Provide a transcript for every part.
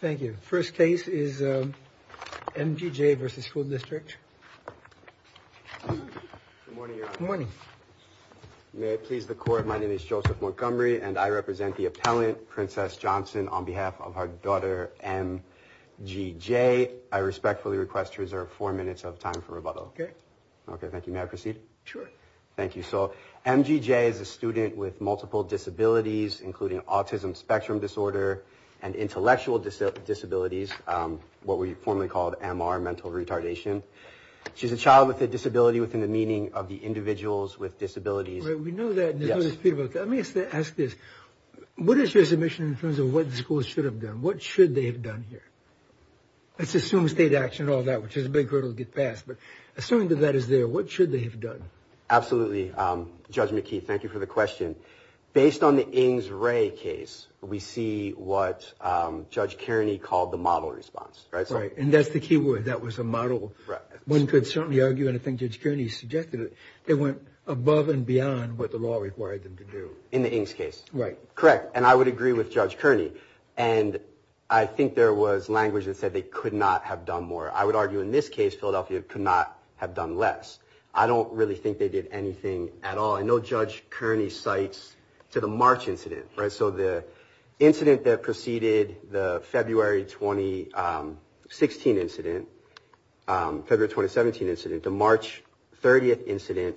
Thank you. First case is M.G.J. v. School District. Good morning, Your Honor. Good morning. May it please the Court, my name is Joseph Montgomery, and I represent the appellant, Princess Johnson, on behalf of her daughter, M.G.J. I respectfully request to reserve four minutes of time for rebuttal. Okay. Okay, thank you. May I proceed? Sure. Thank you. So, M.G.J. is a student with multiple disabilities, including autism spectrum disorder and intellectual disabilities, what we formerly called MR, mental retardation. She's a child with a disability within the meaning of the individuals with disabilities. We know that. Yes. Let me ask this. What is your submission in terms of what the school should have done? What should they have done here? Let's assume state action and all that, which is a big hurdle to get past, but assuming that that is there, what should they have done? Absolutely. Judge McKee, thank you for the question. Based on the Ings-Ray case, we see what Judge Kearney called the model response, right? Right, and that's the key word. That was a model. Right. One could certainly argue anything Judge Kearney suggested. They went above and beyond what the law required them to do. In the Ings case. Right. Correct, and I would agree with Judge Kearney, and I think there was language that said they could not have done more. I would argue in this case, Philadelphia could not have done less. I don't really think they did anything at all. I know Judge Kearney cites to the March incident, right? So, the incident that preceded the February 2016 incident, February 2017 incident, the March 30th incident,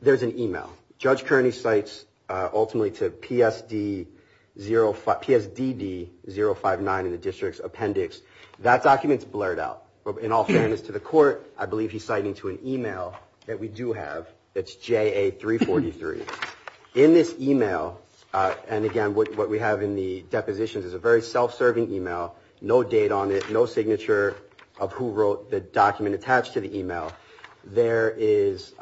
there's an email. Judge Kearney cites ultimately to PSDD-059 in the district's appendix. That document's blurred out. In all fairness to the court, I believe he's citing to an email that we do have. It's JA-343. In this email, and again, what we have in the depositions is a very self-serving email, no date on it, no signature of who wrote the document attached to the email. There is,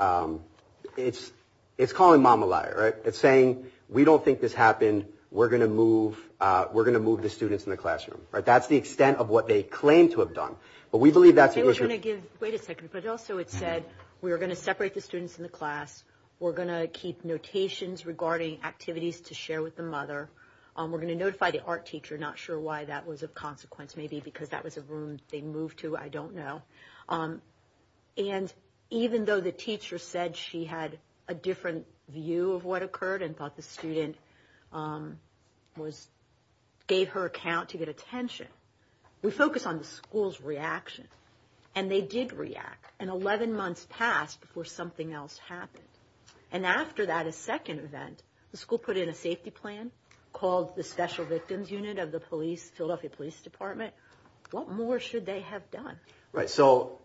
it's calling mom a liar, right? It's saying, we don't think this happened. We're going to move the students in the classroom. That's the extent of what they claim to have done. But we believe that's the issue. Wait a second, but also it said, we are going to separate the students in the class. We're going to keep notations regarding activities to share with the mother. We're going to notify the art teacher. Not sure why that was of consequence. Maybe because that was a room they moved to. I don't know. And even though the teacher said she had a different view of what occurred and thought the student gave her account to get attention, we focus on the school's reaction. And they did react. And 11 months passed before something else happened. And after that, a second event, the school put in a safety plan, called the Special Victims Unit of the Philadelphia Police Department. What more should they have done? Right, so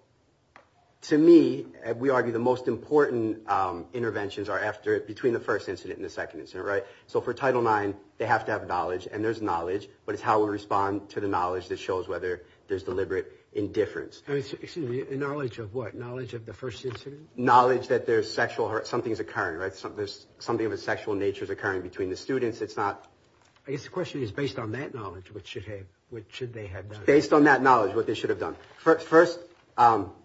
to me, we argue the most important interventions are after, between the first incident and the second incident, right? So for Title IX, they have to have knowledge, and there's knowledge, but it's how we respond to the knowledge that shows whether there's deliberate indifference. Excuse me, knowledge of what? Knowledge of the first incident? Knowledge that something is occurring, right? Something of a sexual nature is occurring between the students. I guess the question is, based on that knowledge, what should they have done? Based on that knowledge, what they should have done. First,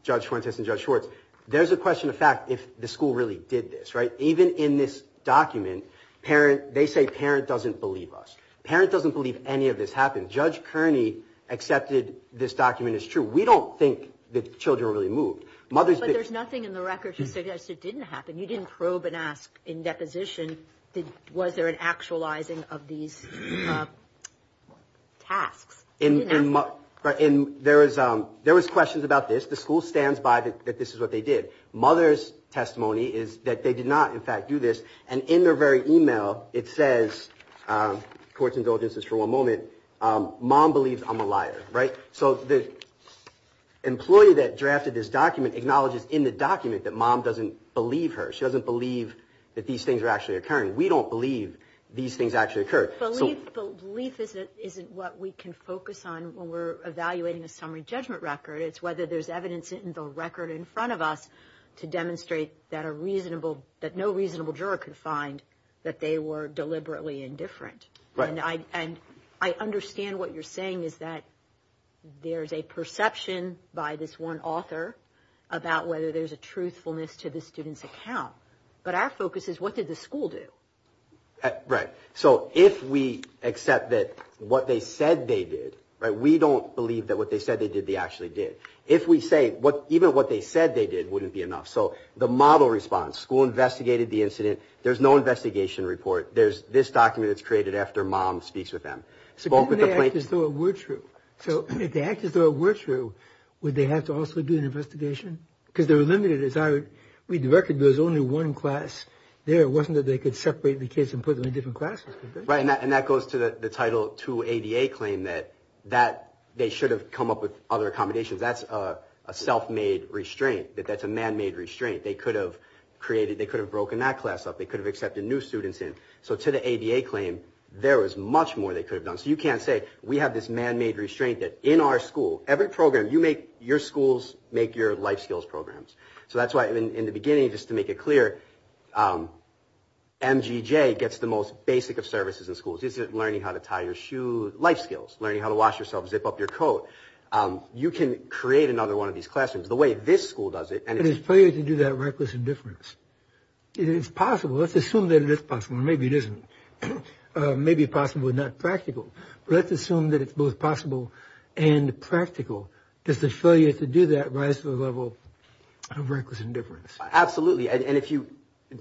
Judge Fuentes and Judge Schwartz, there's a question of fact if the school really did this, right? Even in this document, they say, parent doesn't believe us. Parent doesn't believe any of this happened. Judge Kearney accepted this document is true. We don't think the children were really moved. But there's nothing in the record to suggest it didn't happen. You didn't probe and ask in deposition was there an actualizing of these tasks. There was questions about this. The school stands by that this is what they did. Mother's testimony is that they did not, in fact, do this. And in their very email, it says, court's indulgence is for one moment, mom believes I'm a liar, right? So the employee that drafted this document acknowledges in the document that mom doesn't believe her. She doesn't believe that these things are actually occurring. We don't believe these things actually occurred. Belief isn't what we can focus on when we're evaluating a summary judgment record. It's whether there's evidence in the record in front of us to demonstrate that a reasonable, that no reasonable juror could find that they were deliberately indifferent. And I understand what you're saying is that there's a perception by this one author about whether there's a truthfulness to the student's account. But our focus is what did the school do? Right. So if we accept that what they said they did, right, we don't believe that what they said they did they actually did. If we say even what they said they did wouldn't be enough. So the model response, school investigated the incident. There's no investigation report. There's this document that's created after mom speaks with them. So if they acted as though it were true, would they have to also do an investigation? Because they were limited. As I read the record, there was only one class there. It wasn't that they could separate the kids and put them in different classes. Right, and that goes to the Title 2 ADA claim that they should have come up with other accommodations. That's a self-made restraint. That's a man-made restraint. They could have created, they could have broken that class up. They could have accepted new students in. So to the ADA claim, there was much more they could have done. So you can't say we have this man-made restraint that in our school, every program you make, your schools make your life skills programs. So that's why in the beginning, just to make it clear, M.G.J. gets the most basic of services in schools. It's learning how to tie your shoe, life skills, learning how to wash yourself, zip up your coat. You can create another one of these classrooms the way this school does it. And it's fair to do that reckless indifference. It is possible. Let's assume that it is possible. Maybe it isn't. Maybe possible, not practical. Let's assume that it's both possible and practical. Does the failure to do that rise to the level of reckless indifference? Absolutely. And if you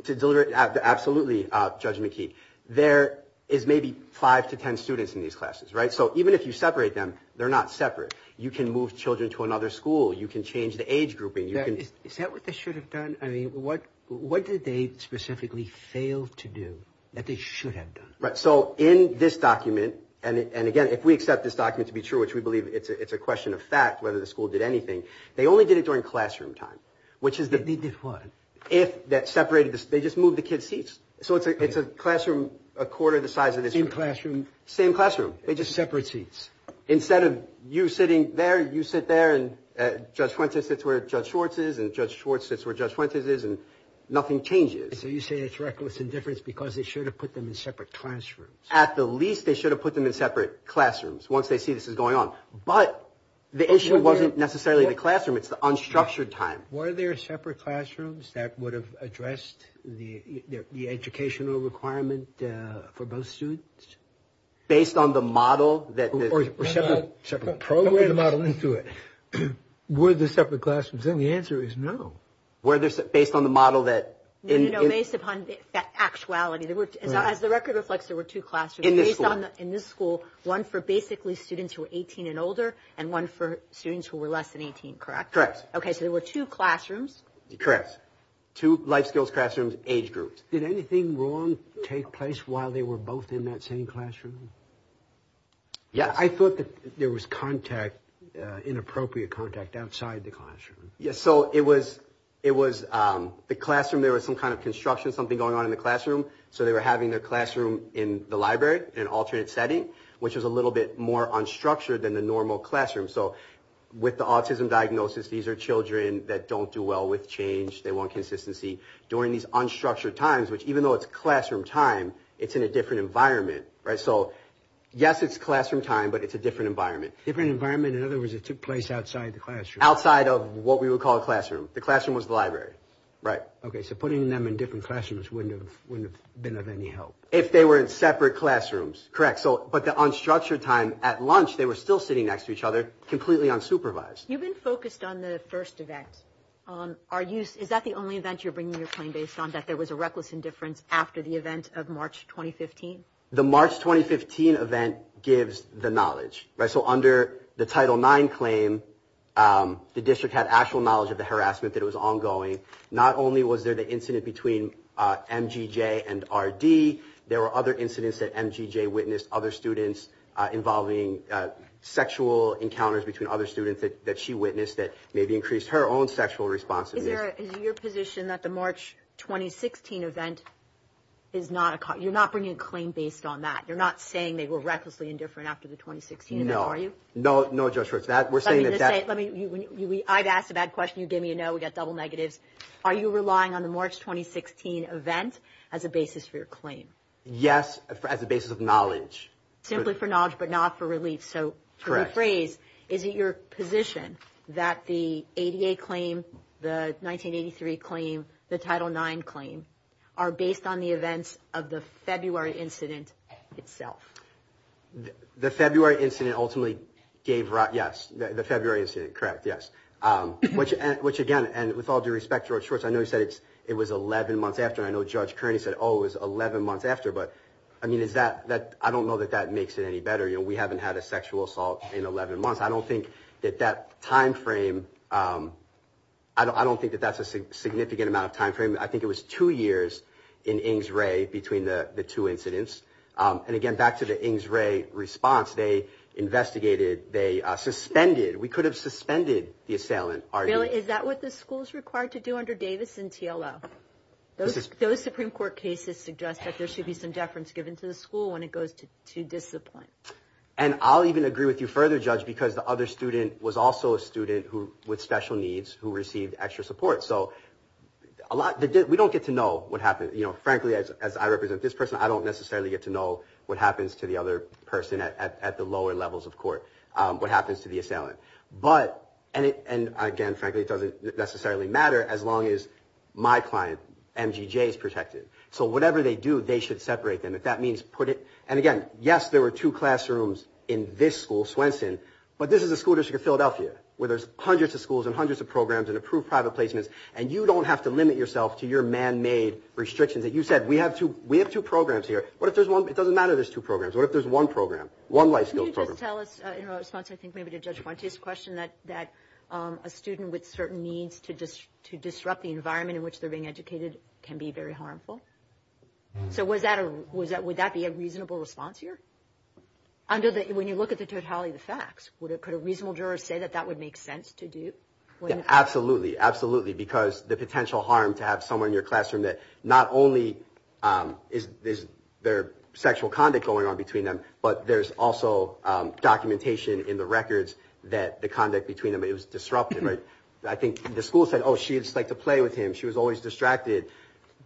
deliberate, absolutely, Judge McKee, there is maybe five to ten students in these classes. Right. So even if you separate them, they're not separate. You can move children to another school. You can change the age grouping. Is that what they should have done? I mean, what did they specifically fail to do that they should have done? Right. So in this document, and again, if we accept this document to be true, which we believe it's a question of fact whether the school did anything, they only did it during classroom time. They did what? They just moved the kids' seats. So it's a classroom a quarter the size of this. Same classroom. Same classroom. They just separate seats. Instead of you sitting there, you sit there, and Judge Fuentes sits where Judge Schwartz is, and Judge Schwartz sits where Judge Fuentes is, and nothing changes. So you say it's reckless indifference because they should have put them in separate classrooms. At the least, they should have put them in separate classrooms once they see this is going on. But the issue wasn't necessarily the classroom. It's the unstructured time. Were there separate classrooms that would have addressed the educational requirement for both students? Based on the model that the – Or separate programs. Don't put the model into it. Were there separate classrooms? And the answer is no. Based on the model that – No, based upon the actuality. As the record reflects, there were two classrooms. In this school. In this school, one for basically students who were 18 and older, and one for students who were less than 18, correct? Correct. Okay, so there were two classrooms. Correct. Two life skills classrooms, age groups. Did anything wrong take place while they were both in that same classroom? Yes. I thought that there was contact, inappropriate contact, outside the classroom. Yes, so it was – The classroom, there was some kind of construction, something going on in the classroom. So they were having their classroom in the library in an alternate setting, which was a little bit more unstructured than the normal classroom. So with the autism diagnosis, these are children that don't do well with change. They want consistency. During these unstructured times, which even though it's classroom time, it's in a different environment, right? So, yes, it's classroom time, but it's a different environment. Different environment. In other words, it took place outside the classroom. Outside of what we would call a classroom. The classroom was the library. Right. Okay, so putting them in different classrooms wouldn't have been of any help. If they were in separate classrooms. Correct. But the unstructured time at lunch, they were still sitting next to each other, completely unsupervised. You've been focused on the first event. Is that the only event you're bringing your claim based on, that there was a reckless indifference after the event of March 2015? The March 2015 event gives the knowledge. So under the Title IX claim, the district had actual knowledge of the harassment that was ongoing. Not only was there the incident between MGJ and RD, there were other incidents that MGJ witnessed, other students involving sexual encounters between other students that she witnessed that maybe increased her own sexual responsiveness. Is it your position that the March 2016 event is not a cause? You're not bringing a claim based on that? You're not saying they were recklessly indifferent after the 2016 event, are you? No. No, Judge Roach. I've asked a bad question. You gave me a no. We got double negatives. Are you relying on the March 2016 event as a basis for your claim? Yes, as a basis of knowledge. Simply for knowledge, but not for relief. Correct. To paraphrase, is it your position that the ADA claim, the 1983 claim, the Title IX claim are based on the events of the February incident itself? The February incident ultimately gave rise, yes. The February incident, correct, yes. Which, again, and with all due respect, Judge Roach, I know you said it was 11 months after, and I know Judge Kearney said, oh, it was 11 months after, but I don't know that that makes it any better. You know, we haven't had a sexual assault in 11 months. I don't think that that time frame, I don't think that that's a significant amount of time frame. I think it was two years in Ings Ray between the two incidents. And, again, back to the Ings Ray response, they investigated, they suspended, we could have suspended the assailant. Bill, is that what the school is required to do under Davis and TLO? Those Supreme Court cases suggest that there should be some deference given to the school when it goes to discipline. And I'll even agree with you further, Judge, because the other student was also a student with special needs who received extra support. So we don't get to know what happened. You know, frankly, as I represent this person, I don't necessarily get to know what happens to the other person at the lower levels of court, what happens to the assailant. And, again, frankly, it doesn't necessarily matter as long as my client, MGJ, is protected. So whatever they do, they should separate them. If that means put it – and, again, yes, there were two classrooms in this school, Swenson, but this is a school district of Philadelphia where there's hundreds of schools and hundreds of programs and approved private placements, and you don't have to limit yourself to your man-made restrictions. You said we have two programs here. What if there's one? It doesn't matter there's two programs. What if there's one program, one life skills program? Can you just tell us in response, I think maybe to Judge Fuentes' question, that a student with certain needs to disrupt the environment in which they're being educated can be very harmful? So would that be a reasonable response here? When you look at the totality of the facts, could a reasonable juror say that that would make sense to do? Absolutely, absolutely, because the potential harm to have someone in your classroom that not only is there sexual conduct going on between them, but there's also documentation in the records that the conduct between them is disruptive. I think the school said, oh, she would just like to play with him. She was always distracted.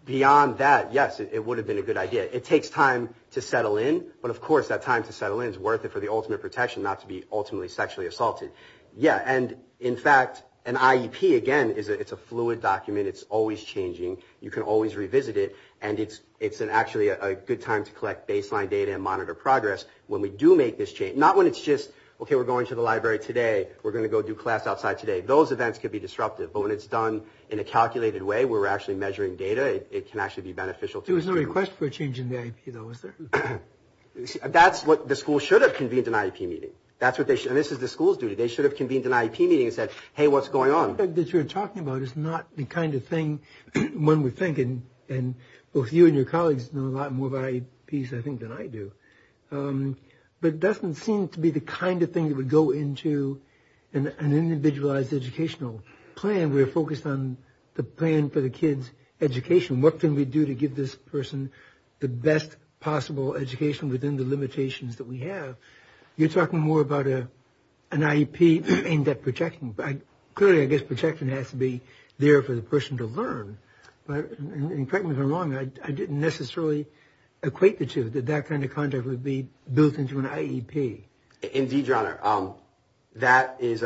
Beyond that, yes, it would have been a good idea. It takes time to settle in, but, of course, that time to settle in is worth it for the ultimate protection, not to be ultimately sexually assaulted. Yeah, and, in fact, an IEP, again, it's a fluid document. It's always changing. You can always revisit it, and it's actually a good time to collect baseline data and monitor progress when we do make this change. Not when it's just, okay, we're going to the library today. We're going to go do class outside today. Those events could be disruptive, but when it's done in a calculated way where we're actually measuring data, it can actually be beneficial to the student. There was no request for a change in the IEP, though, was there? That's what the school should have convened, an IEP meeting. And this is the school's duty. They should have convened an IEP meeting and said, hey, what's going on? What you're talking about is not the kind of thing one would think, and both you and your colleagues know a lot more about IEPs, I think, than I do. But it doesn't seem to be the kind of thing that would go into an individualized educational plan when we're focused on the plan for the kid's education. What can we do to give this person the best possible education within the limitations that we have? You're talking more about an IEP and that projection. Clearly, I guess projection has to be there for the person to learn. And correct me if I'm wrong, I didn't necessarily equate the two, that that kind of contract would be built into an IEP. Indeed, Your Honor. That is,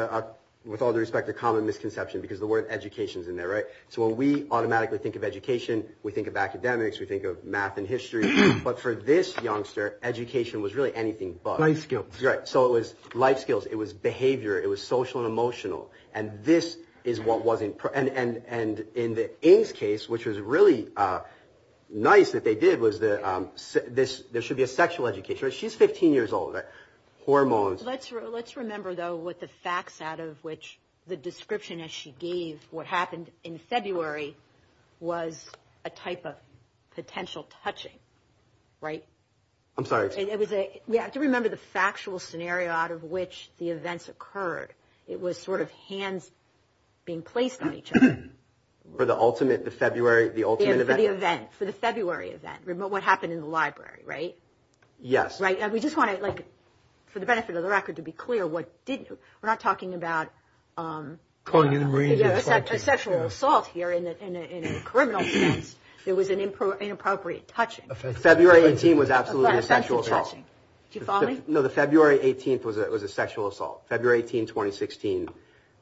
with all due respect, a common misconception because the word education is in there, right? So when we automatically think of education, we think of academics, we think of math and history. But for this youngster, education was really anything but. Life skills. Right, so it was life skills. It was behavior. It was social and emotional. And this is what wasn't – and in the Ng's case, which was really nice that they did, was there should be a sexual education. She's 15 years old. Hormones. Let's remember, though, what the facts out of which the description as she gave what happened in February was a type of potential touching, right? I'm sorry. We have to remember the factual scenario out of which the events occurred. It was sort of hands being placed on each other. For the ultimate, the February, the ultimate event? For the event, for the February event, what happened in the library, right? Yes. We just want to, for the benefit of the record, to be clear. We're not talking about a sexual assault here in a criminal sense. It was an inappropriate touching. February 18 was absolutely a sexual assault. Do you follow me? No, the February 18th was a sexual assault. February 18, 2016.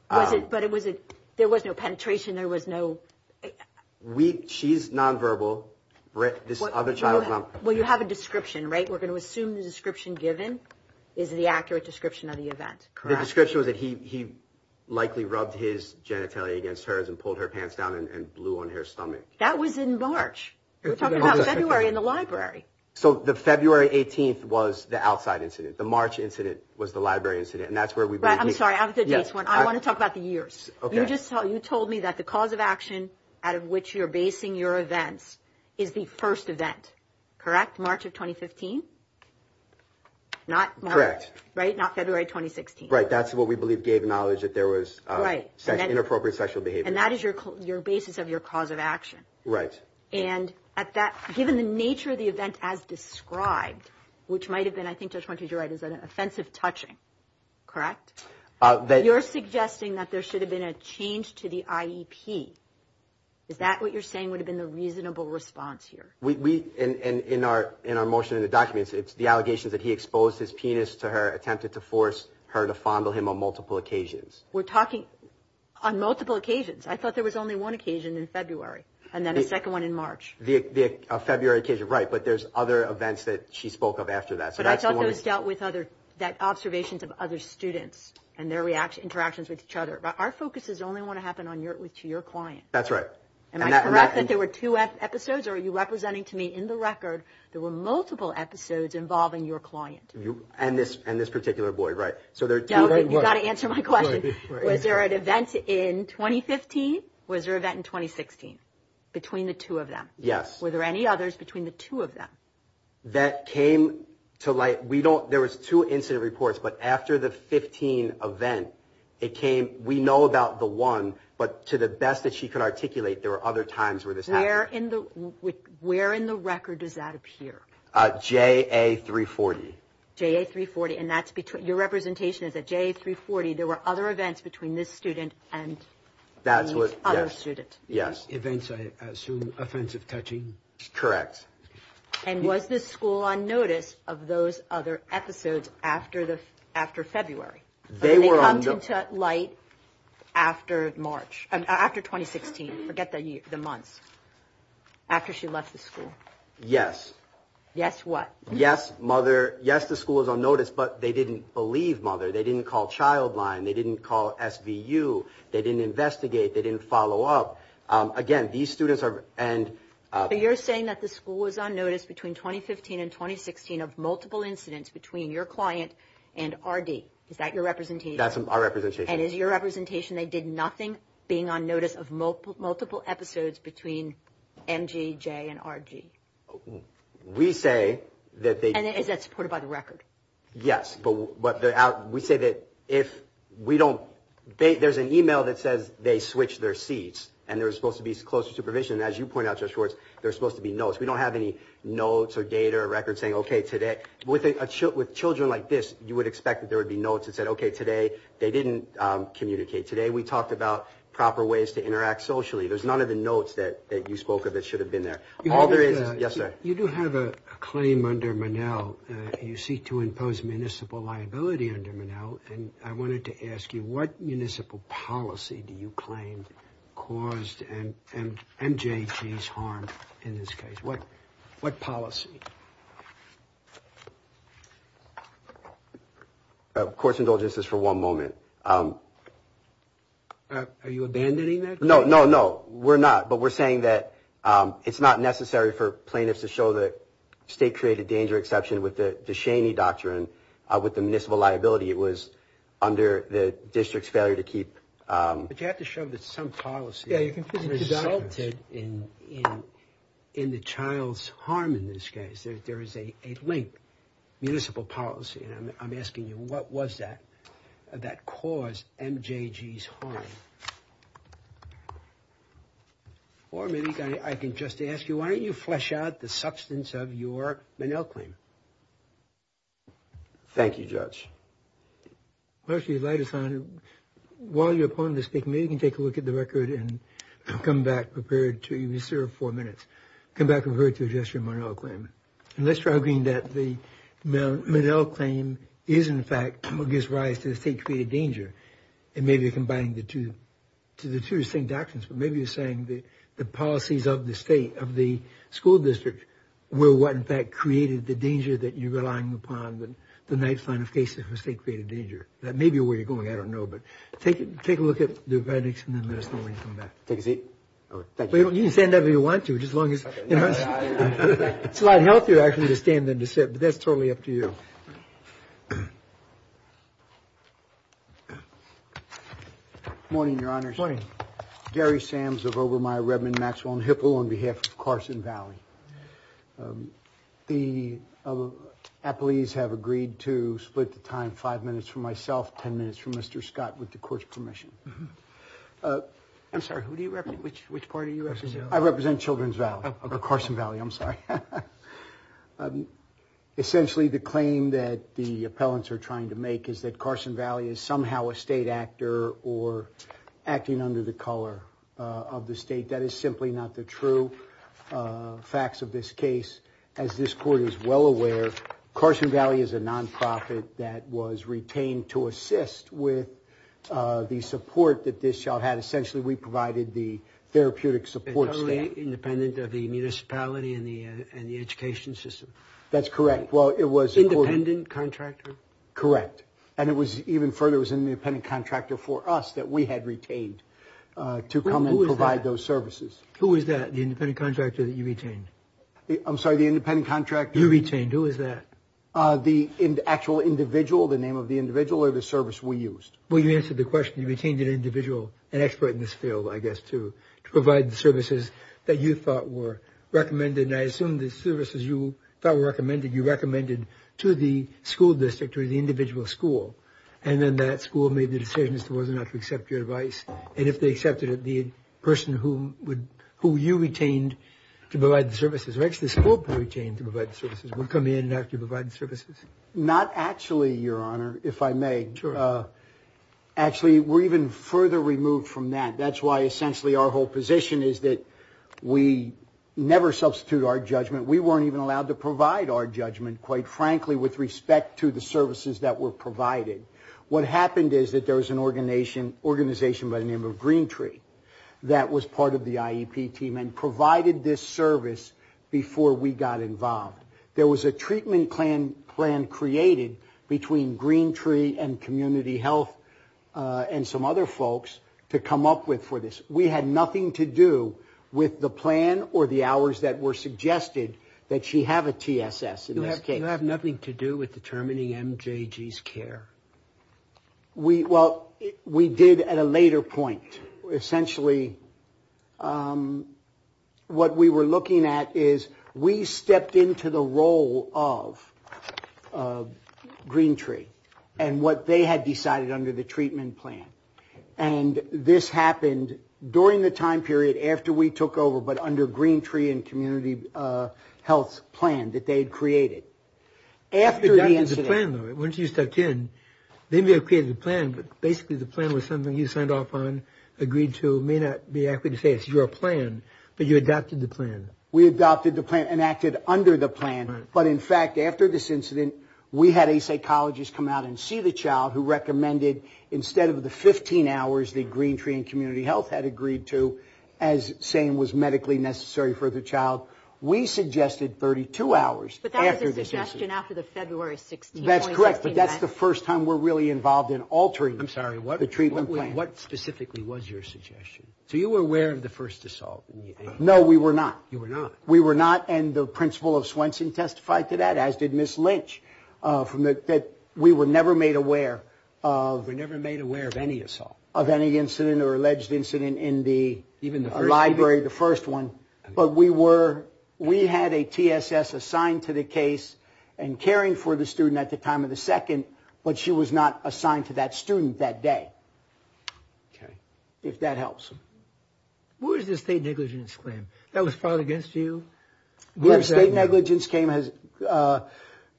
But there was no penetration. There was no – She's nonverbal. This other child is nonverbal. Well, you have a description, right? We're going to assume the description given is the accurate description of the event, correct? The description was that he likely rubbed his genitalia against hers and pulled her pants down and blew on her stomach. That was in March. We're talking about February in the library. So the February 18th was the outside incident. The March incident was the library incident. And that's where we – I'm sorry. I want to talk about the years. You told me that the cause of action out of which you're basing your events is the first event, correct? March of 2015? Correct. Right? Not February 2016. Right. That's what we believe gave knowledge that there was inappropriate sexual behavior. And that is your basis of your cause of action. Right. And at that – given the nature of the event as described, which might have been, I think Judge Montage, you're right, is an offensive touching, correct? You're suggesting that there should have been a change to the IEP. Is that what you're saying would have been the reasonable response here? In our motion in the documents, it's the allegations that he exposed his penis to her, attempted to force her to fondle him on multiple occasions. We're talking on multiple occasions. I thought there was only one occasion in February and then a second one in March. The February occasion, right. But there's other events that she spoke of after that. But I thought those dealt with other – that observations of other students and their interactions with each other. Our focus is only want to happen to your client. That's right. Am I correct that there were two episodes, or are you representing to me in the record there were multiple episodes involving your client? And this particular boy, right. You've got to answer my question. Was there an event in 2015? Was there an event in 2016 between the two of them? Yes. Were there any others between the two of them? That came to light – we don't – there was two incident reports. But after the 15 event, it came – we know about the one, but to the best that she could articulate, there were other times where this happened. Where in the record does that appear? JA-340. JA-340. And that's – your representation is at JA-340. There were other events between this student and this other student. Yes. Events, I assume, offensive touching? Correct. And was the school on notice of those other episodes after February? They were on – They come to light after March – after 2016. Forget the months. After she left the school. Yes. Yes what? Yes, mother – yes, the school was on notice, but they didn't believe mother. They didn't call Childline. They didn't call SVU. They didn't investigate. They didn't follow up. Again, these students are – and – But you're saying that the school was on notice between 2015 and 2016 of multiple incidents between your client and RD. Is that your representation? That's our representation. And is your representation they did nothing, being on notice of multiple episodes between MG, J, and RG? We say that they – And is that supported by the record? Yes, but we say that if we don't – there's an email that says they switched their seats and there was supposed to be closer supervision. As you point out, Judge Schwartz, there's supposed to be notes. We don't have any notes or data or records saying, okay, today – With children like this, you would expect that there would be notes that said, okay, today they didn't communicate. Today we talked about proper ways to interact socially. There's none of the notes that you spoke of that should have been there. All there is – yes, sir? You do have a claim under Monell. You seek to impose municipal liability under Monell. And I wanted to ask you, what municipal policy do you claim caused MJG's harm in this case? What policy? Court's indulgence is for one moment. Are you abandoning that claim? No, no, no. We're not. But we're saying that it's not necessary for plaintiffs to show that state-created danger exception with the Shaney Doctrine with the municipal liability. It was under the district's failure to keep – But you have to show that some policy resulted in the child's harm in this case. There is a link, municipal policy. And I'm asking you, what was that that caused MJG's harm? Or maybe I can just ask you, why don't you flesh out the substance of your Monell claim? Thank you, Judge. Well, actually, the light is on. While your opponent is speaking, maybe you can take a look at the record and come back prepared to – you serve four minutes. Come back prepared to address your Monell claim. And let's try agreeing that the Monell claim is, in fact, what gives rise to the state-created danger. And maybe you're combining the two. The two are the same doctrines, but maybe you're saying the policies of the state, of the school district, were what, in fact, created the danger that you're relying upon, the knife line of cases for state-created danger. That may be where you're going. I don't know. But take a look at the verdicts and then let us know when you come back. Take a seat. Thank you. You can stand up if you want to, just as long as – It's a lot healthier, actually, to stand than to sit. But that's totally up to you. Morning, Your Honors. Morning. Gary Sams of Obermeyer, Redmond, Maxwell, and Hipple on behalf of Carson Valley. The appellees have agreed to split the time five minutes for myself, ten minutes for Mr. Scott, with the court's permission. I'm sorry. Who do you represent? Which party do you represent? I represent Children's Valley, or Carson Valley. I'm sorry. Essentially, the claim that the appellants are trying to make is that Carson Valley is somehow a state actor or acting under the color of the state. That is simply not the true facts of this case. As this court is well aware, Carson Valley is a nonprofit that was retained to assist with the support that this child had. Essentially, we provided the therapeutic support staff. And totally independent of the municipality and the education system? That's correct. Independent contractor? Correct. And it was even further, it was an independent contractor for us that we had retained to come and provide those services. Who is that, the independent contractor that you retained? I'm sorry, the independent contractor? You retained. Who is that? The actual individual, the name of the individual, or the service we used? Well, you answered the question. You retained an individual, an expert in this field, I guess, to provide the services that you thought were recommended. And I assume the services you thought were recommended, you recommended to the school district or the individual school. And then that school made the decision as to whether or not to accept your advice. And if they accepted it, the person who you retained to provide the services, or actually the school retained to provide the services, would come in and have to provide the services? Not actually, Your Honor, if I may. Sure. Actually, we're even further removed from that. That's why essentially our whole position is that we never substitute our judgment. We weren't even allowed to provide our judgment, quite frankly, with respect to the services that were provided. What happened is that there was an organization by the name of Green Tree that was part of the IEP team and provided this service before we got involved. There was a treatment plan created between Green Tree and Community Health and some other folks to come up with for this. We had nothing to do with the plan or the hours that were suggested that she have a TSS in this case. You have nothing to do with determining MJG's care? Well, we did at a later point. Essentially what we were looking at is we stepped into the role of Green Tree and what they had decided under the treatment plan. And this happened during the time period after we took over, but under Green Tree and Community Health's plan that they had created. After the incident. Once you stepped in, they may have created a plan, but basically the plan was something you signed off on, agreed to. It may not be accurate to say it's your plan, but you adopted the plan. We adopted the plan and acted under the plan. But in fact, after this incident, we had a psychologist come out and see the child who recommended instead of the 15 hours that Green Tree and Community Health had agreed to as saying was medically necessary for the child, we suggested 32 hours. But that was a suggestion after the February 16th. That's correct, but that's the first time we're really involved in altering the treatment plan. I'm sorry, what specifically was your suggestion? So you were aware of the first assault? No, we were not. You were not. We were not, and the principal of Swenson testified to that, as did Ms. Lynch, that we were never made aware of. We were never made aware of any assault. Of any incident or alleged incident in the library, the first one. But we had a TSS assigned to the case and caring for the student at the time of the second, but she was not assigned to that student that day, if that helps. What was the state negligence claim? That was filed against you? The state negligence claim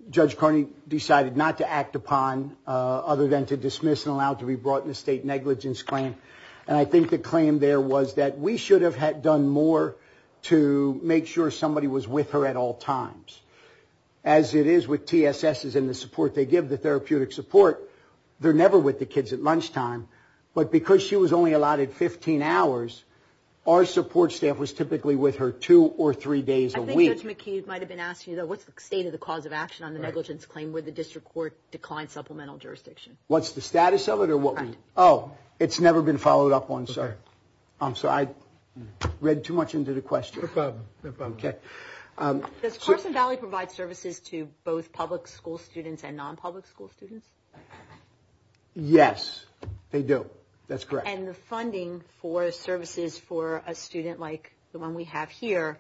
Judge Carney decided not to act upon other than to dismiss and allow it to be brought in the state negligence claim, and I think the claim there was that we should have done more to make sure somebody was with her at all times. As it is with TSSs and the support they give, the therapeutic support, they're never with the kids at lunchtime, but because she was only allotted 15 hours, our support staff was typically with her two or three days a week. I think Judge McHugh might have been asking you, though, what's the state of the cause of action on the negligence claim where the district court declined supplemental jurisdiction? What's the status of it? Oh, it's never been followed up on, so I read too much into the question. No problem. Does Carson Valley provide services to both public school students and non-public school students? Yes, they do. That's correct. And the funding for services for a student like the one we have here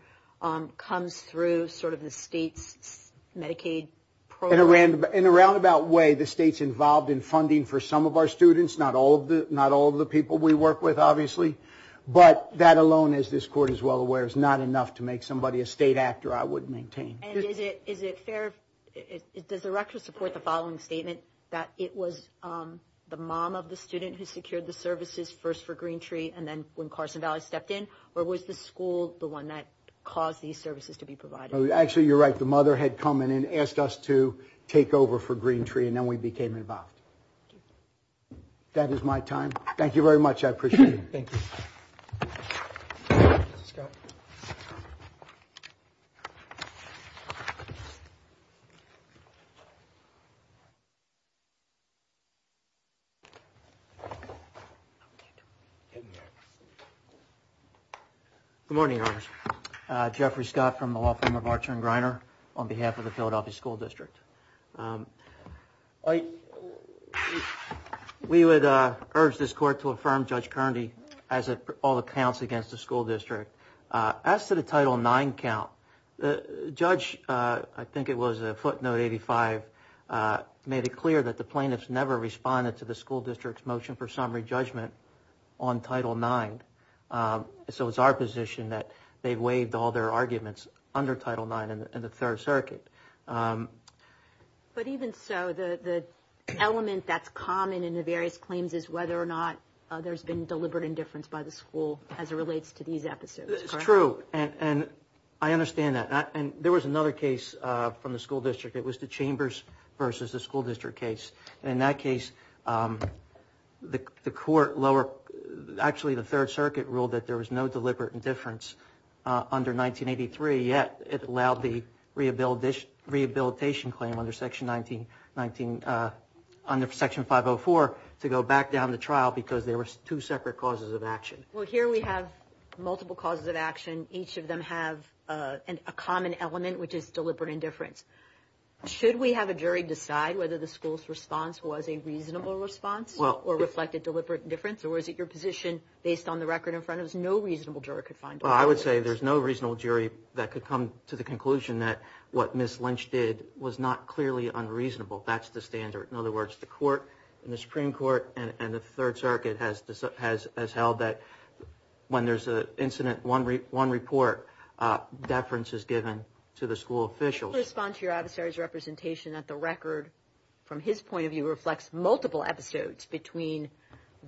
comes through sort of the state's Medicaid program? In a roundabout way, the state's involved in funding for some of our students, not all of the people we work with, obviously, but that alone, as this Court is well aware, is not enough to make somebody a state actor, I would maintain. And is it fair, does the record support the following statement, that it was the mom of the student who secured the services first for Green Tree and then when Carson Valley stepped in, or was the school the one that caused these services to be provided? Actually, you're right. The mother had come in and asked us to take over for Green Tree and then we became involved. That is my time. Thank you very much. I appreciate it. Thank you. Good morning. Jeffrey Scott from the law firm of Archer and Greiner on behalf of the Philadelphia School District. We would urge this Court to affirm Judge Kerndy as it all accounts against the school district. As to the Title IX count, the judge, I think it was footnote 85, made it clear that the plaintiffs never responded to the school district's motion for summary judgment on Title IX. So it's our position that they've waived all their arguments under Title IX and the Third Circuit. But even so, the element that's common in the various claims is whether or not there's been deliberate indifference by the school as it relates to these episodes, correct? It's true. And I understand that. And there was another case from the school district. It was the Chambers versus the school district case. And in that case, the court lower, actually the Third Circuit ruled that there was no deliberate indifference under 1983, yet it allowed the rehabilitation claim under Section 504 to go back down the trial because there were two separate causes of action. Well, here we have multiple causes of action. Each of them have a common element, which is deliberate indifference. Should we have a jury decide whether the school's response was a reasonable response or reflected deliberate indifference? Or is it your position, based on the record in front of us, no reasonable juror could find all those cases? Well, I would say there's no reasonable jury that could come to the conclusion that what Ms. Lynch did was not clearly unreasonable. That's the standard. In other words, the court in the Supreme Court and the Third Circuit has held that when there's an incident, one report, deference is given to the school officials. Could you respond to your adversary's representation that the record, from his point of view, reflects multiple episodes between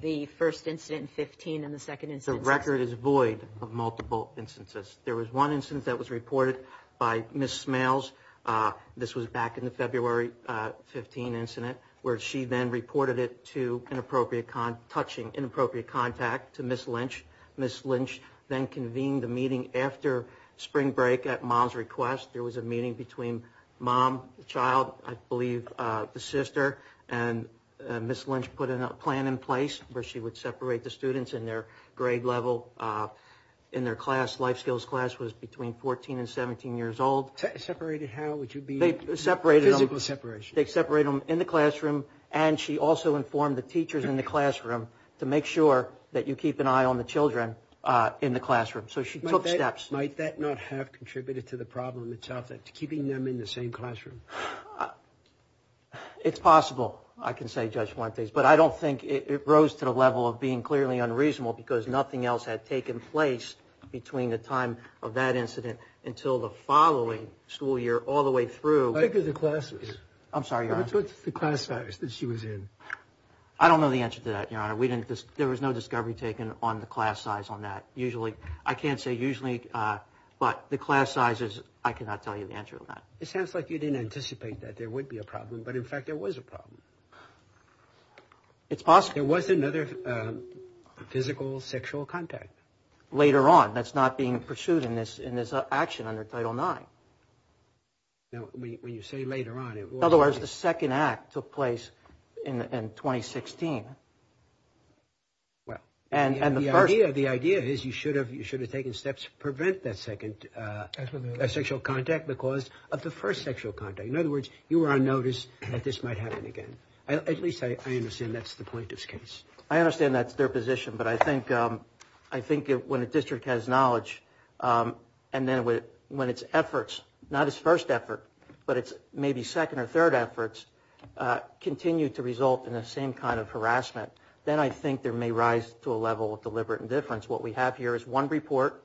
the first incident in 15 and the second incident in 16? The record is void of multiple instances. There was one incident that was reported by Ms. Smales. This was back in the February 15 incident, where she then reported it to inappropriate – touching inappropriate contact to Ms. Lynch. Ms. Lynch then convened the meeting after spring break at Ma's request. There was a meeting between mom, the child, I believe the sister, and Ms. Lynch put a plan in place where she would separate the students in their grade level in their class. Life skills class was between 14 and 17 years old. Separated how? Would you be – They separated them. Physical separation. They separated them in the classroom, and she also informed the teachers in the classroom to make sure that you keep an eye on the children in the classroom. So she took steps. Might that not have contributed to the problem itself, keeping them in the same classroom? It's possible, I can say, Judge Fuentes. But I don't think it rose to the level of being clearly unreasonable because nothing else had taken place between the time of that incident until the following school year all the way through. I think of the classes. I'm sorry, Your Honor. What's the class size that she was in? I don't know the answer to that, Your Honor. We didn't – there was no discovery taken on the class size on that. Usually – I can't say usually, but the class sizes, I cannot tell you the answer to that. It sounds like you didn't anticipate that there would be a problem, but in fact there was a problem. It's possible. There was another physical sexual contact. Later on. That's not being pursued in this action under Title IX. When you say later on, it was later on. In other words, the second act took place in 2016. Well, the idea is you should have taken steps to prevent that second sexual contact because of the first sexual contact. In other words, you were on notice that this might happen again. At least I understand that's the plaintiff's case. I understand that's their position, but I think when a district has knowledge and then when its efforts, not its first effort, but its maybe second or third efforts, continue to result in the same kind of harassment, then I think there may rise to a level of deliberate indifference. What we have here is one report,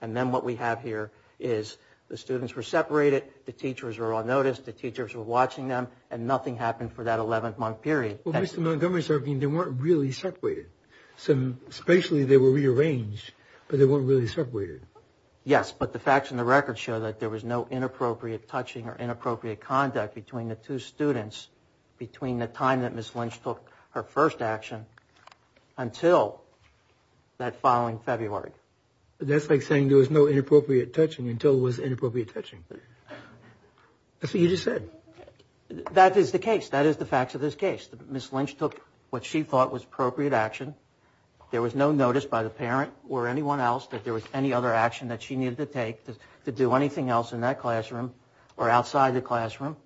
and then what we have here is the students were separated, the teachers were on notice, the teachers were watching them, and nothing happened for that 11-month period. Well, Mr. Montgomery is arguing they weren't really separated. Spatially they were rearranged, but they weren't really separated. Yes, but the facts and the records show that there was no inappropriate touching or inappropriate conduct between the two students between the time that Ms. Lynch took her first action until that following February. That's like saying there was no inappropriate touching until it was inappropriate touching. That's what you just said. That is the case. That is the facts of this case. Ms. Lynch took what she thought was appropriate action. There was no notice by the parent or anyone else that there was any other action that she needed to take to do anything else in that classroom or outside the classroom,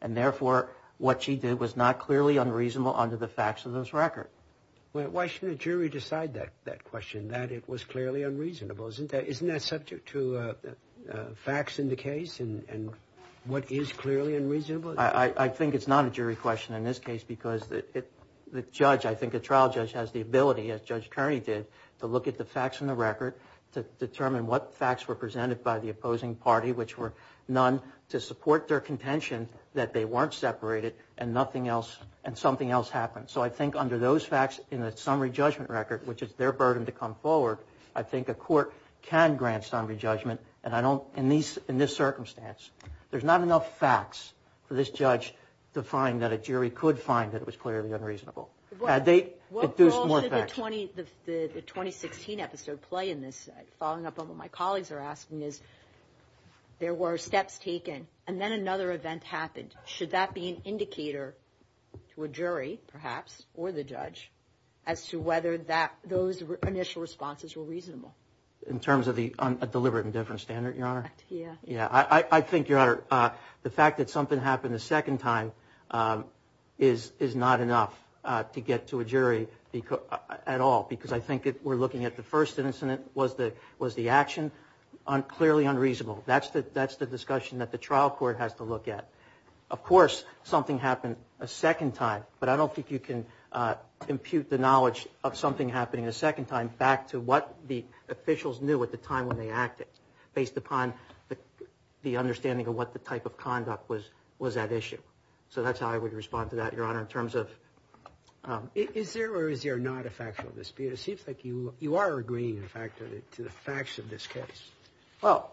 and therefore what she did was not clearly unreasonable under the facts of this record. Why shouldn't a jury decide that question, that it was clearly unreasonable? Isn't that subject to facts in the case and what is clearly unreasonable? I think it's not a jury question in this case because the judge, I think a trial judge has the ability, as Judge Kearney did, to look at the facts in the record, to determine what facts were presented by the opposing party, which were none, to support their contention that they weren't separated and something else happened. So I think under those facts in the summary judgment record, which is their burden to come forward, I think a court can grant summary judgment. In this circumstance, there's not enough facts for this judge to find that a jury could find that it was clearly unreasonable. What role did the 2016 episode play in this? Following up on what my colleagues are asking is, there were steps taken and then another event happened. Should that be an indicator to a jury, perhaps, or the judge, as to whether those initial responses were reasonable? In terms of the deliberate indifference standard, Your Honor? Yeah. I think, Your Honor, the fact that something happened a second time is not enough to get to a jury at all because I think if we're looking at the first incident, was the action clearly unreasonable? That's the discussion that the trial court has to look at. Of course, something happened a second time, but I don't think you can impute the knowledge of something happening a second time back to what the officials knew at the time when they acted based upon the understanding of what the type of conduct was at issue. So that's how I would respond to that, Your Honor, in terms of... Is there or is there not a factual dispute? It seems like you are agreeing, in fact, to the facts of this case. Well,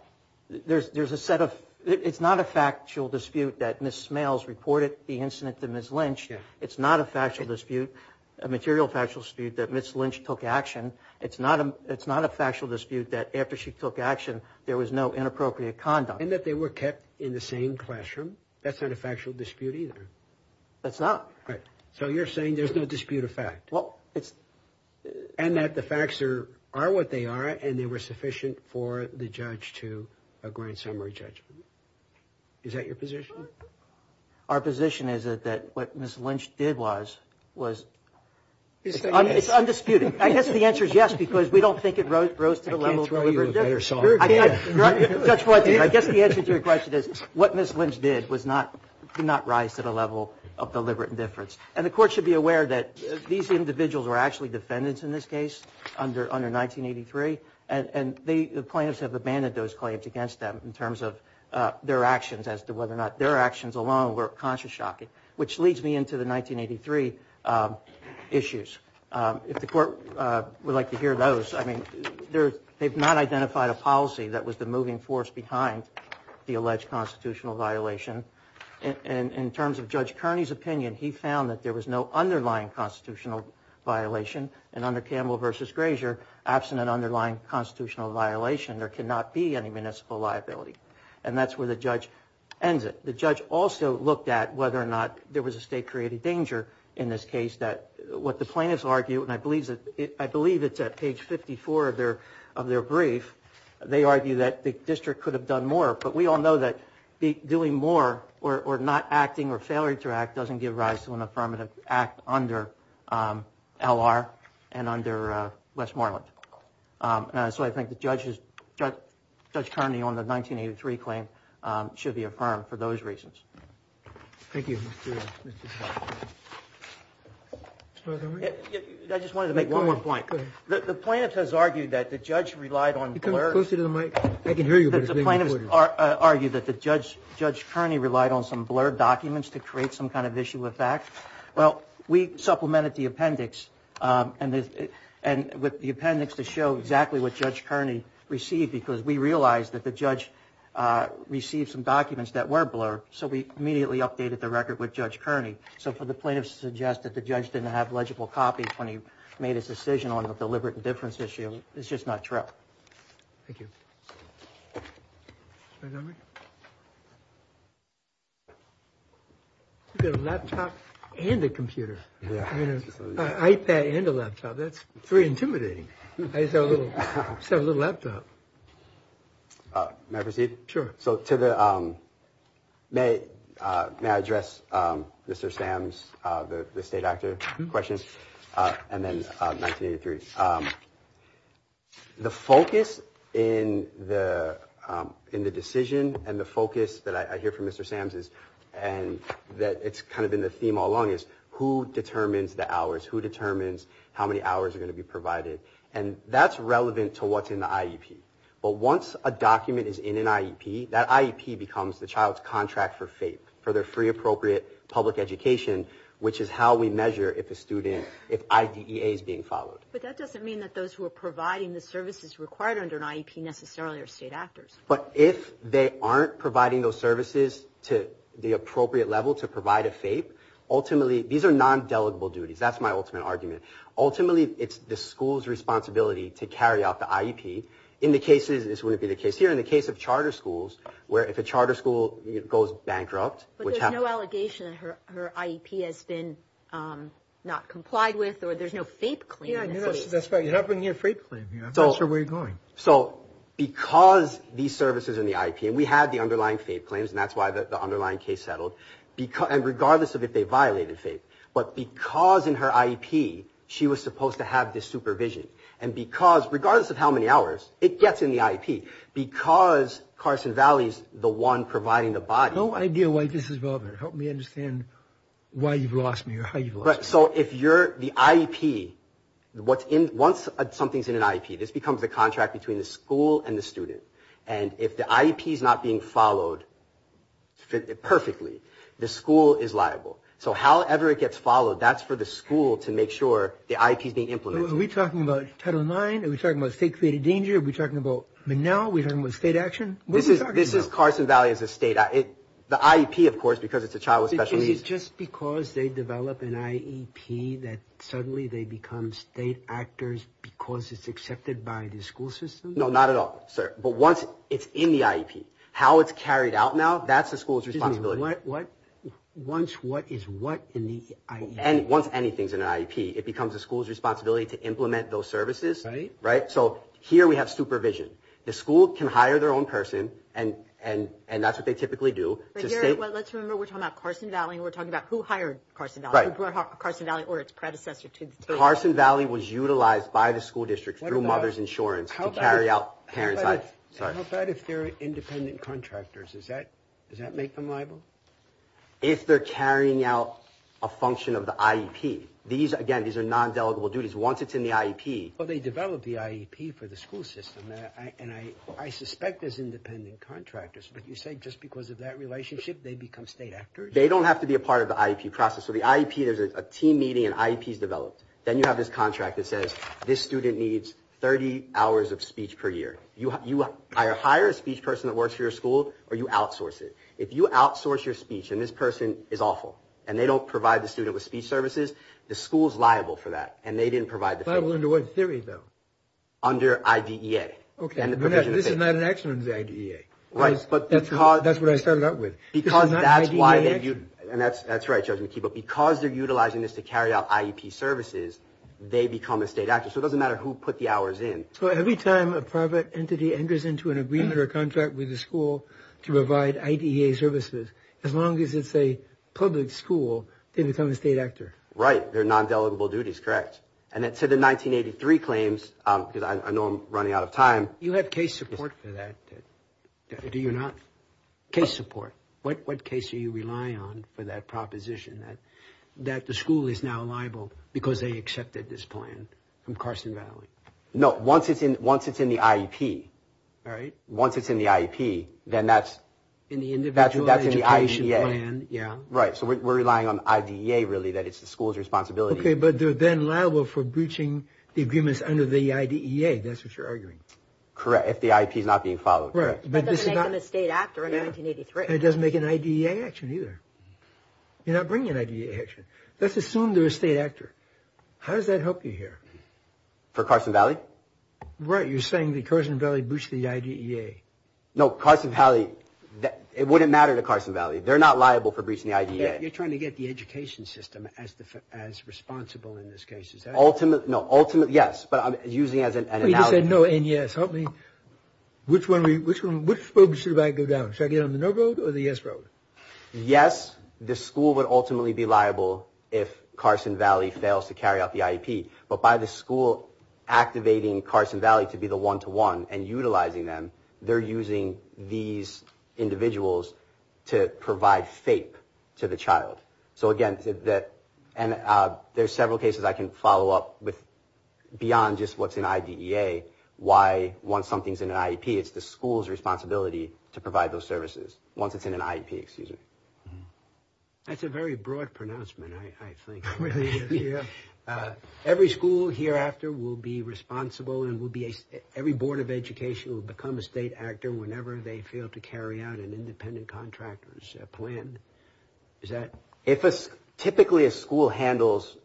there's a set of... It's not a factual dispute that Ms. Smails reported the incident to Ms. Lynch. It's not a factual dispute, a material factual dispute, that Ms. Lynch took action. It's not a factual dispute that after she took action there was no inappropriate conduct. And that they were kept in the same classroom? That's not a factual dispute either. That's not. Right. So you're saying there's no dispute of fact? Well, it's... And that the facts are what they are and they were sufficient for the judge to grant summary judgment. Is that your position? Our position is that what Ms. Lynch did was... It's undisputed. I guess the answer is yes because we don't think it rose to the level of deliberate indifference. I can't throw you a better song. Judge Boyd, I guess the answer to your question is what Ms. Lynch did did not rise to the level of deliberate indifference. And the Court should be aware that these individuals were actually defendants in this case under 1983, and the plaintiffs have abandoned those claims against them in terms of their actions as to whether or not their actions alone were conscious shocking, which leads me into the 1983 issues. If the Court would like to hear those, I mean, they've not identified a policy that was the moving force behind the alleged constitutional violation. And in terms of Judge Kearney's opinion, he found that there was no underlying constitutional violation, and under Campbell v. Grazier, absent an underlying constitutional violation, there cannot be any municipal liability. And that's where the judge ends it. The judge also looked at whether or not there was a state-created danger in this case that what the plaintiffs argue, and I believe it's at page 54 of their brief, they argue that the district could have done more, but we all know that doing more or not acting or failing to act doesn't give rise to an affirmative act under L.R. and under Westmoreland. So I think Judge Kearney on the 1983 claim should be affirmed for those reasons. Thank you. I just wanted to make one more point. The plaintiff has argued that the judge relied on blurbs. Can you come closer to the mic? I can hear you, but it's being recorded. The plaintiff has argued that Judge Kearney relied on some blurb documents to create some kind of issue of fact. Well, we supplemented the appendix with the appendix to show exactly what Judge Kearney received because we realized that the judge received some documents that were blurb, so we immediately updated the record with Judge Kearney. So for the plaintiff to suggest that the judge didn't have legible copies when he made his decision on the deliberate indifference issue is just not true. Thank you. You've got a laptop and a computer. An iPad and a laptop. That's pretty intimidating. I saw a little laptop. May I proceed? Sure. May I address Mr. Sams, the state actor, question? And then 1983. The focus in the decision and the focus that I hear from Mr. Sams, and it's kind of been the theme all along, is who determines the hours? Who determines how many hours are going to be provided? And that's relevant to what's in the IEP. But once a document is in an IEP, that IEP becomes the child's contract for FAPE, for their free appropriate public education, which is how we measure if a student, if IDEA is being followed. But that doesn't mean that those who are providing the services required under an IEP necessarily are state actors. But if they aren't providing those services to the appropriate level to provide a FAPE, ultimately, these are non-delegable duties. That's my ultimate argument. Ultimately, it's the school's responsibility to carry out the IEP. In the cases, this wouldn't be the case here, in the case of charter schools, where if a charter school goes bankrupt, which happens. But there's no allegation that her IEP has been not complied with, or there's no FAPE claim. That's right. You're not bringing a FAPE claim here. I'm not sure where you're going. So because these services in the IEP, and we had the underlying FAPE claims, and that's why the underlying case settled, and regardless of if they violated FAPE. But because in her IEP, she was supposed to have this supervision. And because, regardless of how many hours, it gets in the IEP. Because Carson Valley's the one providing the body. I have no idea why this is relevant. Help me understand why you've lost me or how you've lost me. So if you're the IEP, once something's in an IEP, this becomes a contract between the school and the student. And if the IEP's not being followed perfectly, the school is liable. So however it gets followed, that's for the school to make sure the IEP's being implemented. So are we talking about Title IX? Are we talking about state-created danger? Are we talking about MNOW? Are we talking about state action? What are we talking about? This is Carson Valley as a state. The IEP, of course, because it's a child with special needs. Is it just because they develop an IEP that suddenly they become state actors because it's accepted by the school system? No, not at all, sir. But once it's in the IEP, how it's carried out now, that's the school's responsibility. Excuse me. What? Once what is what in the IEP? Once anything's in an IEP, it becomes the school's responsibility to implement those services. Right. Right? So here we have supervision. The school can hire their own person, and that's what they typically do. Let's remember we're talking about Carson Valley, and we're talking about who hired Carson Valley, who brought Carson Valley or its predecessor to the table. Carson Valley was utilized by the school district through Mother's Insurance to carry out parents' IEP. How bad if they're independent contractors? Does that make them liable? If they're carrying out a function of the IEP. These, again, these are non-delegable duties. Once it's in the IEP. Well, they develop the IEP for the school system, and I suspect as independent contractors, but you say just because of that relationship they become state actors? They don't have to be a part of the IEP process. So the IEP, there's a team meeting, and IEP's developed. Then you have this contract that says this student needs 30 hours of speech per year. You either hire a speech person that works for your school or you outsource it. If you outsource your speech, and this person is awful, and they don't provide the student with speech services, the school's liable for that, and they didn't provide the. Liable under what theory, though? Under IDEA. Okay. This is not an action under IDEA. Right, but because. That's what I started out with. Because that's why they, and that's right, Judge McKee, but because they're utilizing this to carry out IEP services, they become a state actor. So it doesn't matter who put the hours in. So every time a private entity enters into an agreement or contract with a school to provide IDEA services, as long as it's a public school, they become a state actor? Right. They're non-delegable duties, correct. And it said in 1983 claims, because I know I'm running out of time. You have case support for that. Do you not? Case support. What case do you rely on for that proposition that the school is now liable because they accepted this plan from Carson Valley? No, once it's in the IEP. All right. Once it's in the IEP, then that's. In the individual education plan, yeah. Right, so we're relying on IDEA, really, that it's the school's responsibility. Okay, but they're then liable for breaching the agreements under the IDEA. That's what you're arguing. Correct, if the IEP is not being followed. Right. But this is not. It doesn't make them a state actor in 1983. It doesn't make an IDEA action, either. You're not bringing an IDEA action. Let's assume they're a state actor. How does that help you here? For Carson Valley? Right, you're saying that Carson Valley breached the IDEA. No, Carson Valley, it wouldn't matter to Carson Valley. They're not liable for breaching the IDEA. You're trying to get the education system as responsible in this case. No, ultimately, yes, but I'm using it as an analogy. You just said no and yes. Help me. Which road should I go down? Should I get on the no road or the yes road? Yes, the school would ultimately be liable if Carson Valley fails to carry out the IEP, but by the school activating Carson Valley to be the one-to-one and utilizing them, they're using these individuals to provide FAPE to the child. So, again, there's several cases I can follow up with beyond just what's in IDEA. Why, once something's in an IEP, it's the school's responsibility to provide those services once it's in an IEP. That's a very broad pronouncement, I think. Every school hereafter will be responsible and every board of education will become a state actor whenever they fail to carry out an independent contractor's plan. Typically, a school handles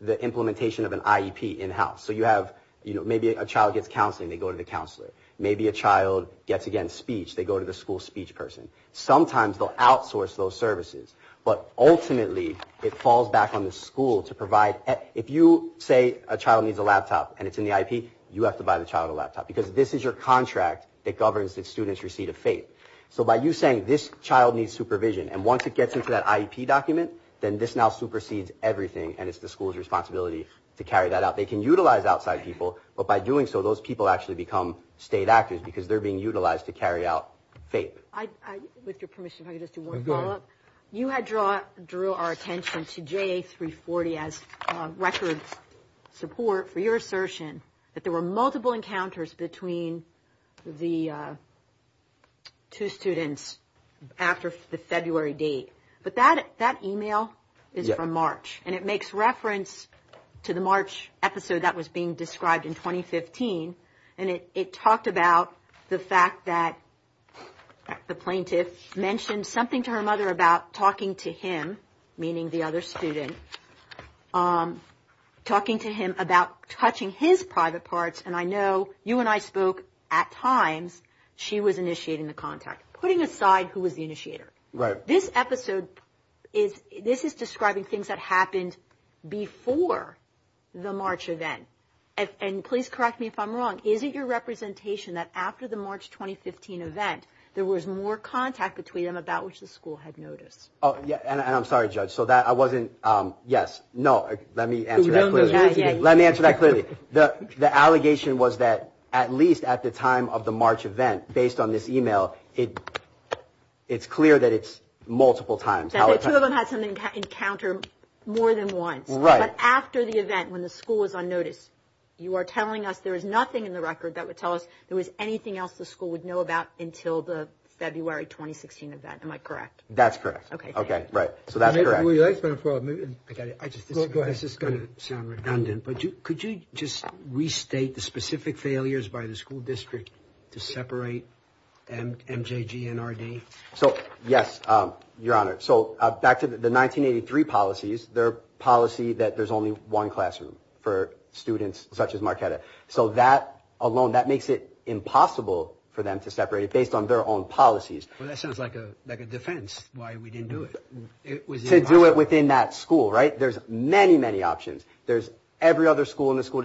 the implementation of an IEP in-house. So maybe a child gets counseling, they go to the counselor. Maybe a child gets, again, speech, they go to the school speech person. Sometimes they'll outsource those services, but ultimately it falls back on the school to provide. If you say a child needs a laptop and it's in the IEP, you have to buy the child a laptop because this is your contract that governs the student's receipt of FAPE. So by you saying this child needs supervision and once it gets into that IEP document, then this now supersedes everything and it's the school's responsibility to carry that out. They can utilize outside people, but by doing so those people actually become state actors because they're being utilized to carry out FAPE. With your permission, if I could just do one follow-up. You had drew our attention to JA 340 as record support for your assertion that there were multiple encounters between the two students after the February date. But that email is from March and it makes reference to the March episode that was being described in 2015 and it talked about the fact that the plaintiff mentioned something to her mother about talking to him, meaning the other student, talking to him about touching his private parts. And I know you and I spoke at times. She was initiating the contact, putting aside who was the initiator. This episode is describing things that happened before the March event. And please correct me if I'm wrong. Is it your representation that after the March 2015 event, there was more contact between them about which the school had noticed? And I'm sorry, Judge, so that I wasn't – yes, no, let me answer that clearly. Let me answer that clearly. The allegation was that at least at the time of the March event, based on this email, it's clear that it's multiple times. That the two of them had some encounter more than once. Right. But after the event, when the school was on notice, you are telling us there is nothing in the record that would tell us there was anything else the school would know about until the February 2016 event. Am I correct? That's correct. Okay. Right. So that's correct. This is going to sound redundant, but could you just restate the specific failures by the school district to separate MJG and RD? So, yes, Your Honor. So back to the 1983 policies, their policy that there's only one classroom for students such as Marquetta. So that alone, that makes it impossible for them to separate it based on their own policies. Well, that sounds like a defense why we didn't do it. To do it within that school, right? There's many, many options. There's every other school in the school.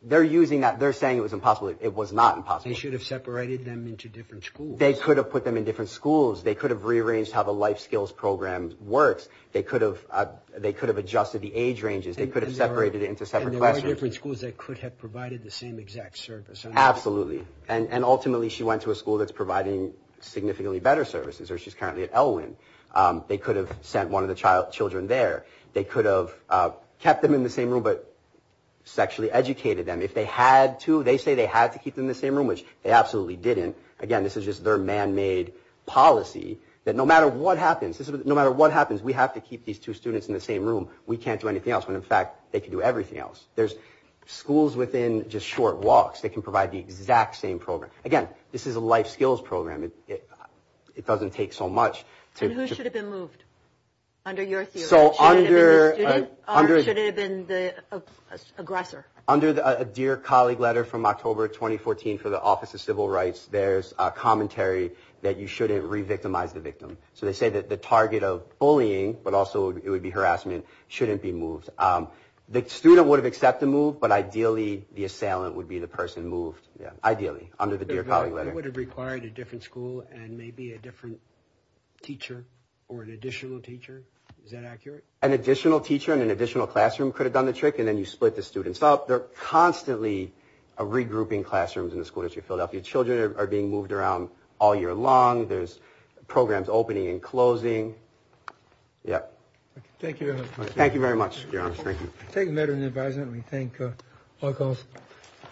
They're using that. They're saying it was impossible. It was not impossible. They should have separated them into different schools. They could have put them in different schools. They could have rearranged how the life skills program works. They could have adjusted the age ranges. They could have separated it into separate classrooms. And there are different schools that could have provided the same exact service. Absolutely. And ultimately she went to a school that's providing significantly better services, or she's currently at Elwyn. They could have sent one of the children there. They could have kept them in the same room but sexually educated them. If they had to, they say they had to keep them in the same room, which they absolutely didn't. Again, this is just their man-made policy that no matter what happens, no matter what happens, we have to keep these two students in the same room. We can't do anything else. When, in fact, they can do everything else. There's schools within just short walks that can provide the exact same program. Again, this is a life skills program. It doesn't take so much. And who should have been moved under your theory? Should it have been the student or should it have been the aggressor? Under a Dear Colleague letter from October 2014 for the Office of Civil Rights, there's commentary that you shouldn't re-victimize the victim. So they say that the target of bullying, but also it would be harassment, shouldn't be moved. The student would have accepted the move, but ideally the assailant would be the person moved, ideally, under the Dear Colleague letter. It would have required a different school and maybe a different teacher or an additional teacher. Is that accurate? An additional teacher and an additional classroom could have done the trick, and then you split the students up. They're constantly regrouping classrooms in the school district of Philadelphia. Children are being moved around all year long. There's programs opening and closing. Thank you very much. Thank you very much. Thank you. I take the matter into advisement. We thank all of you.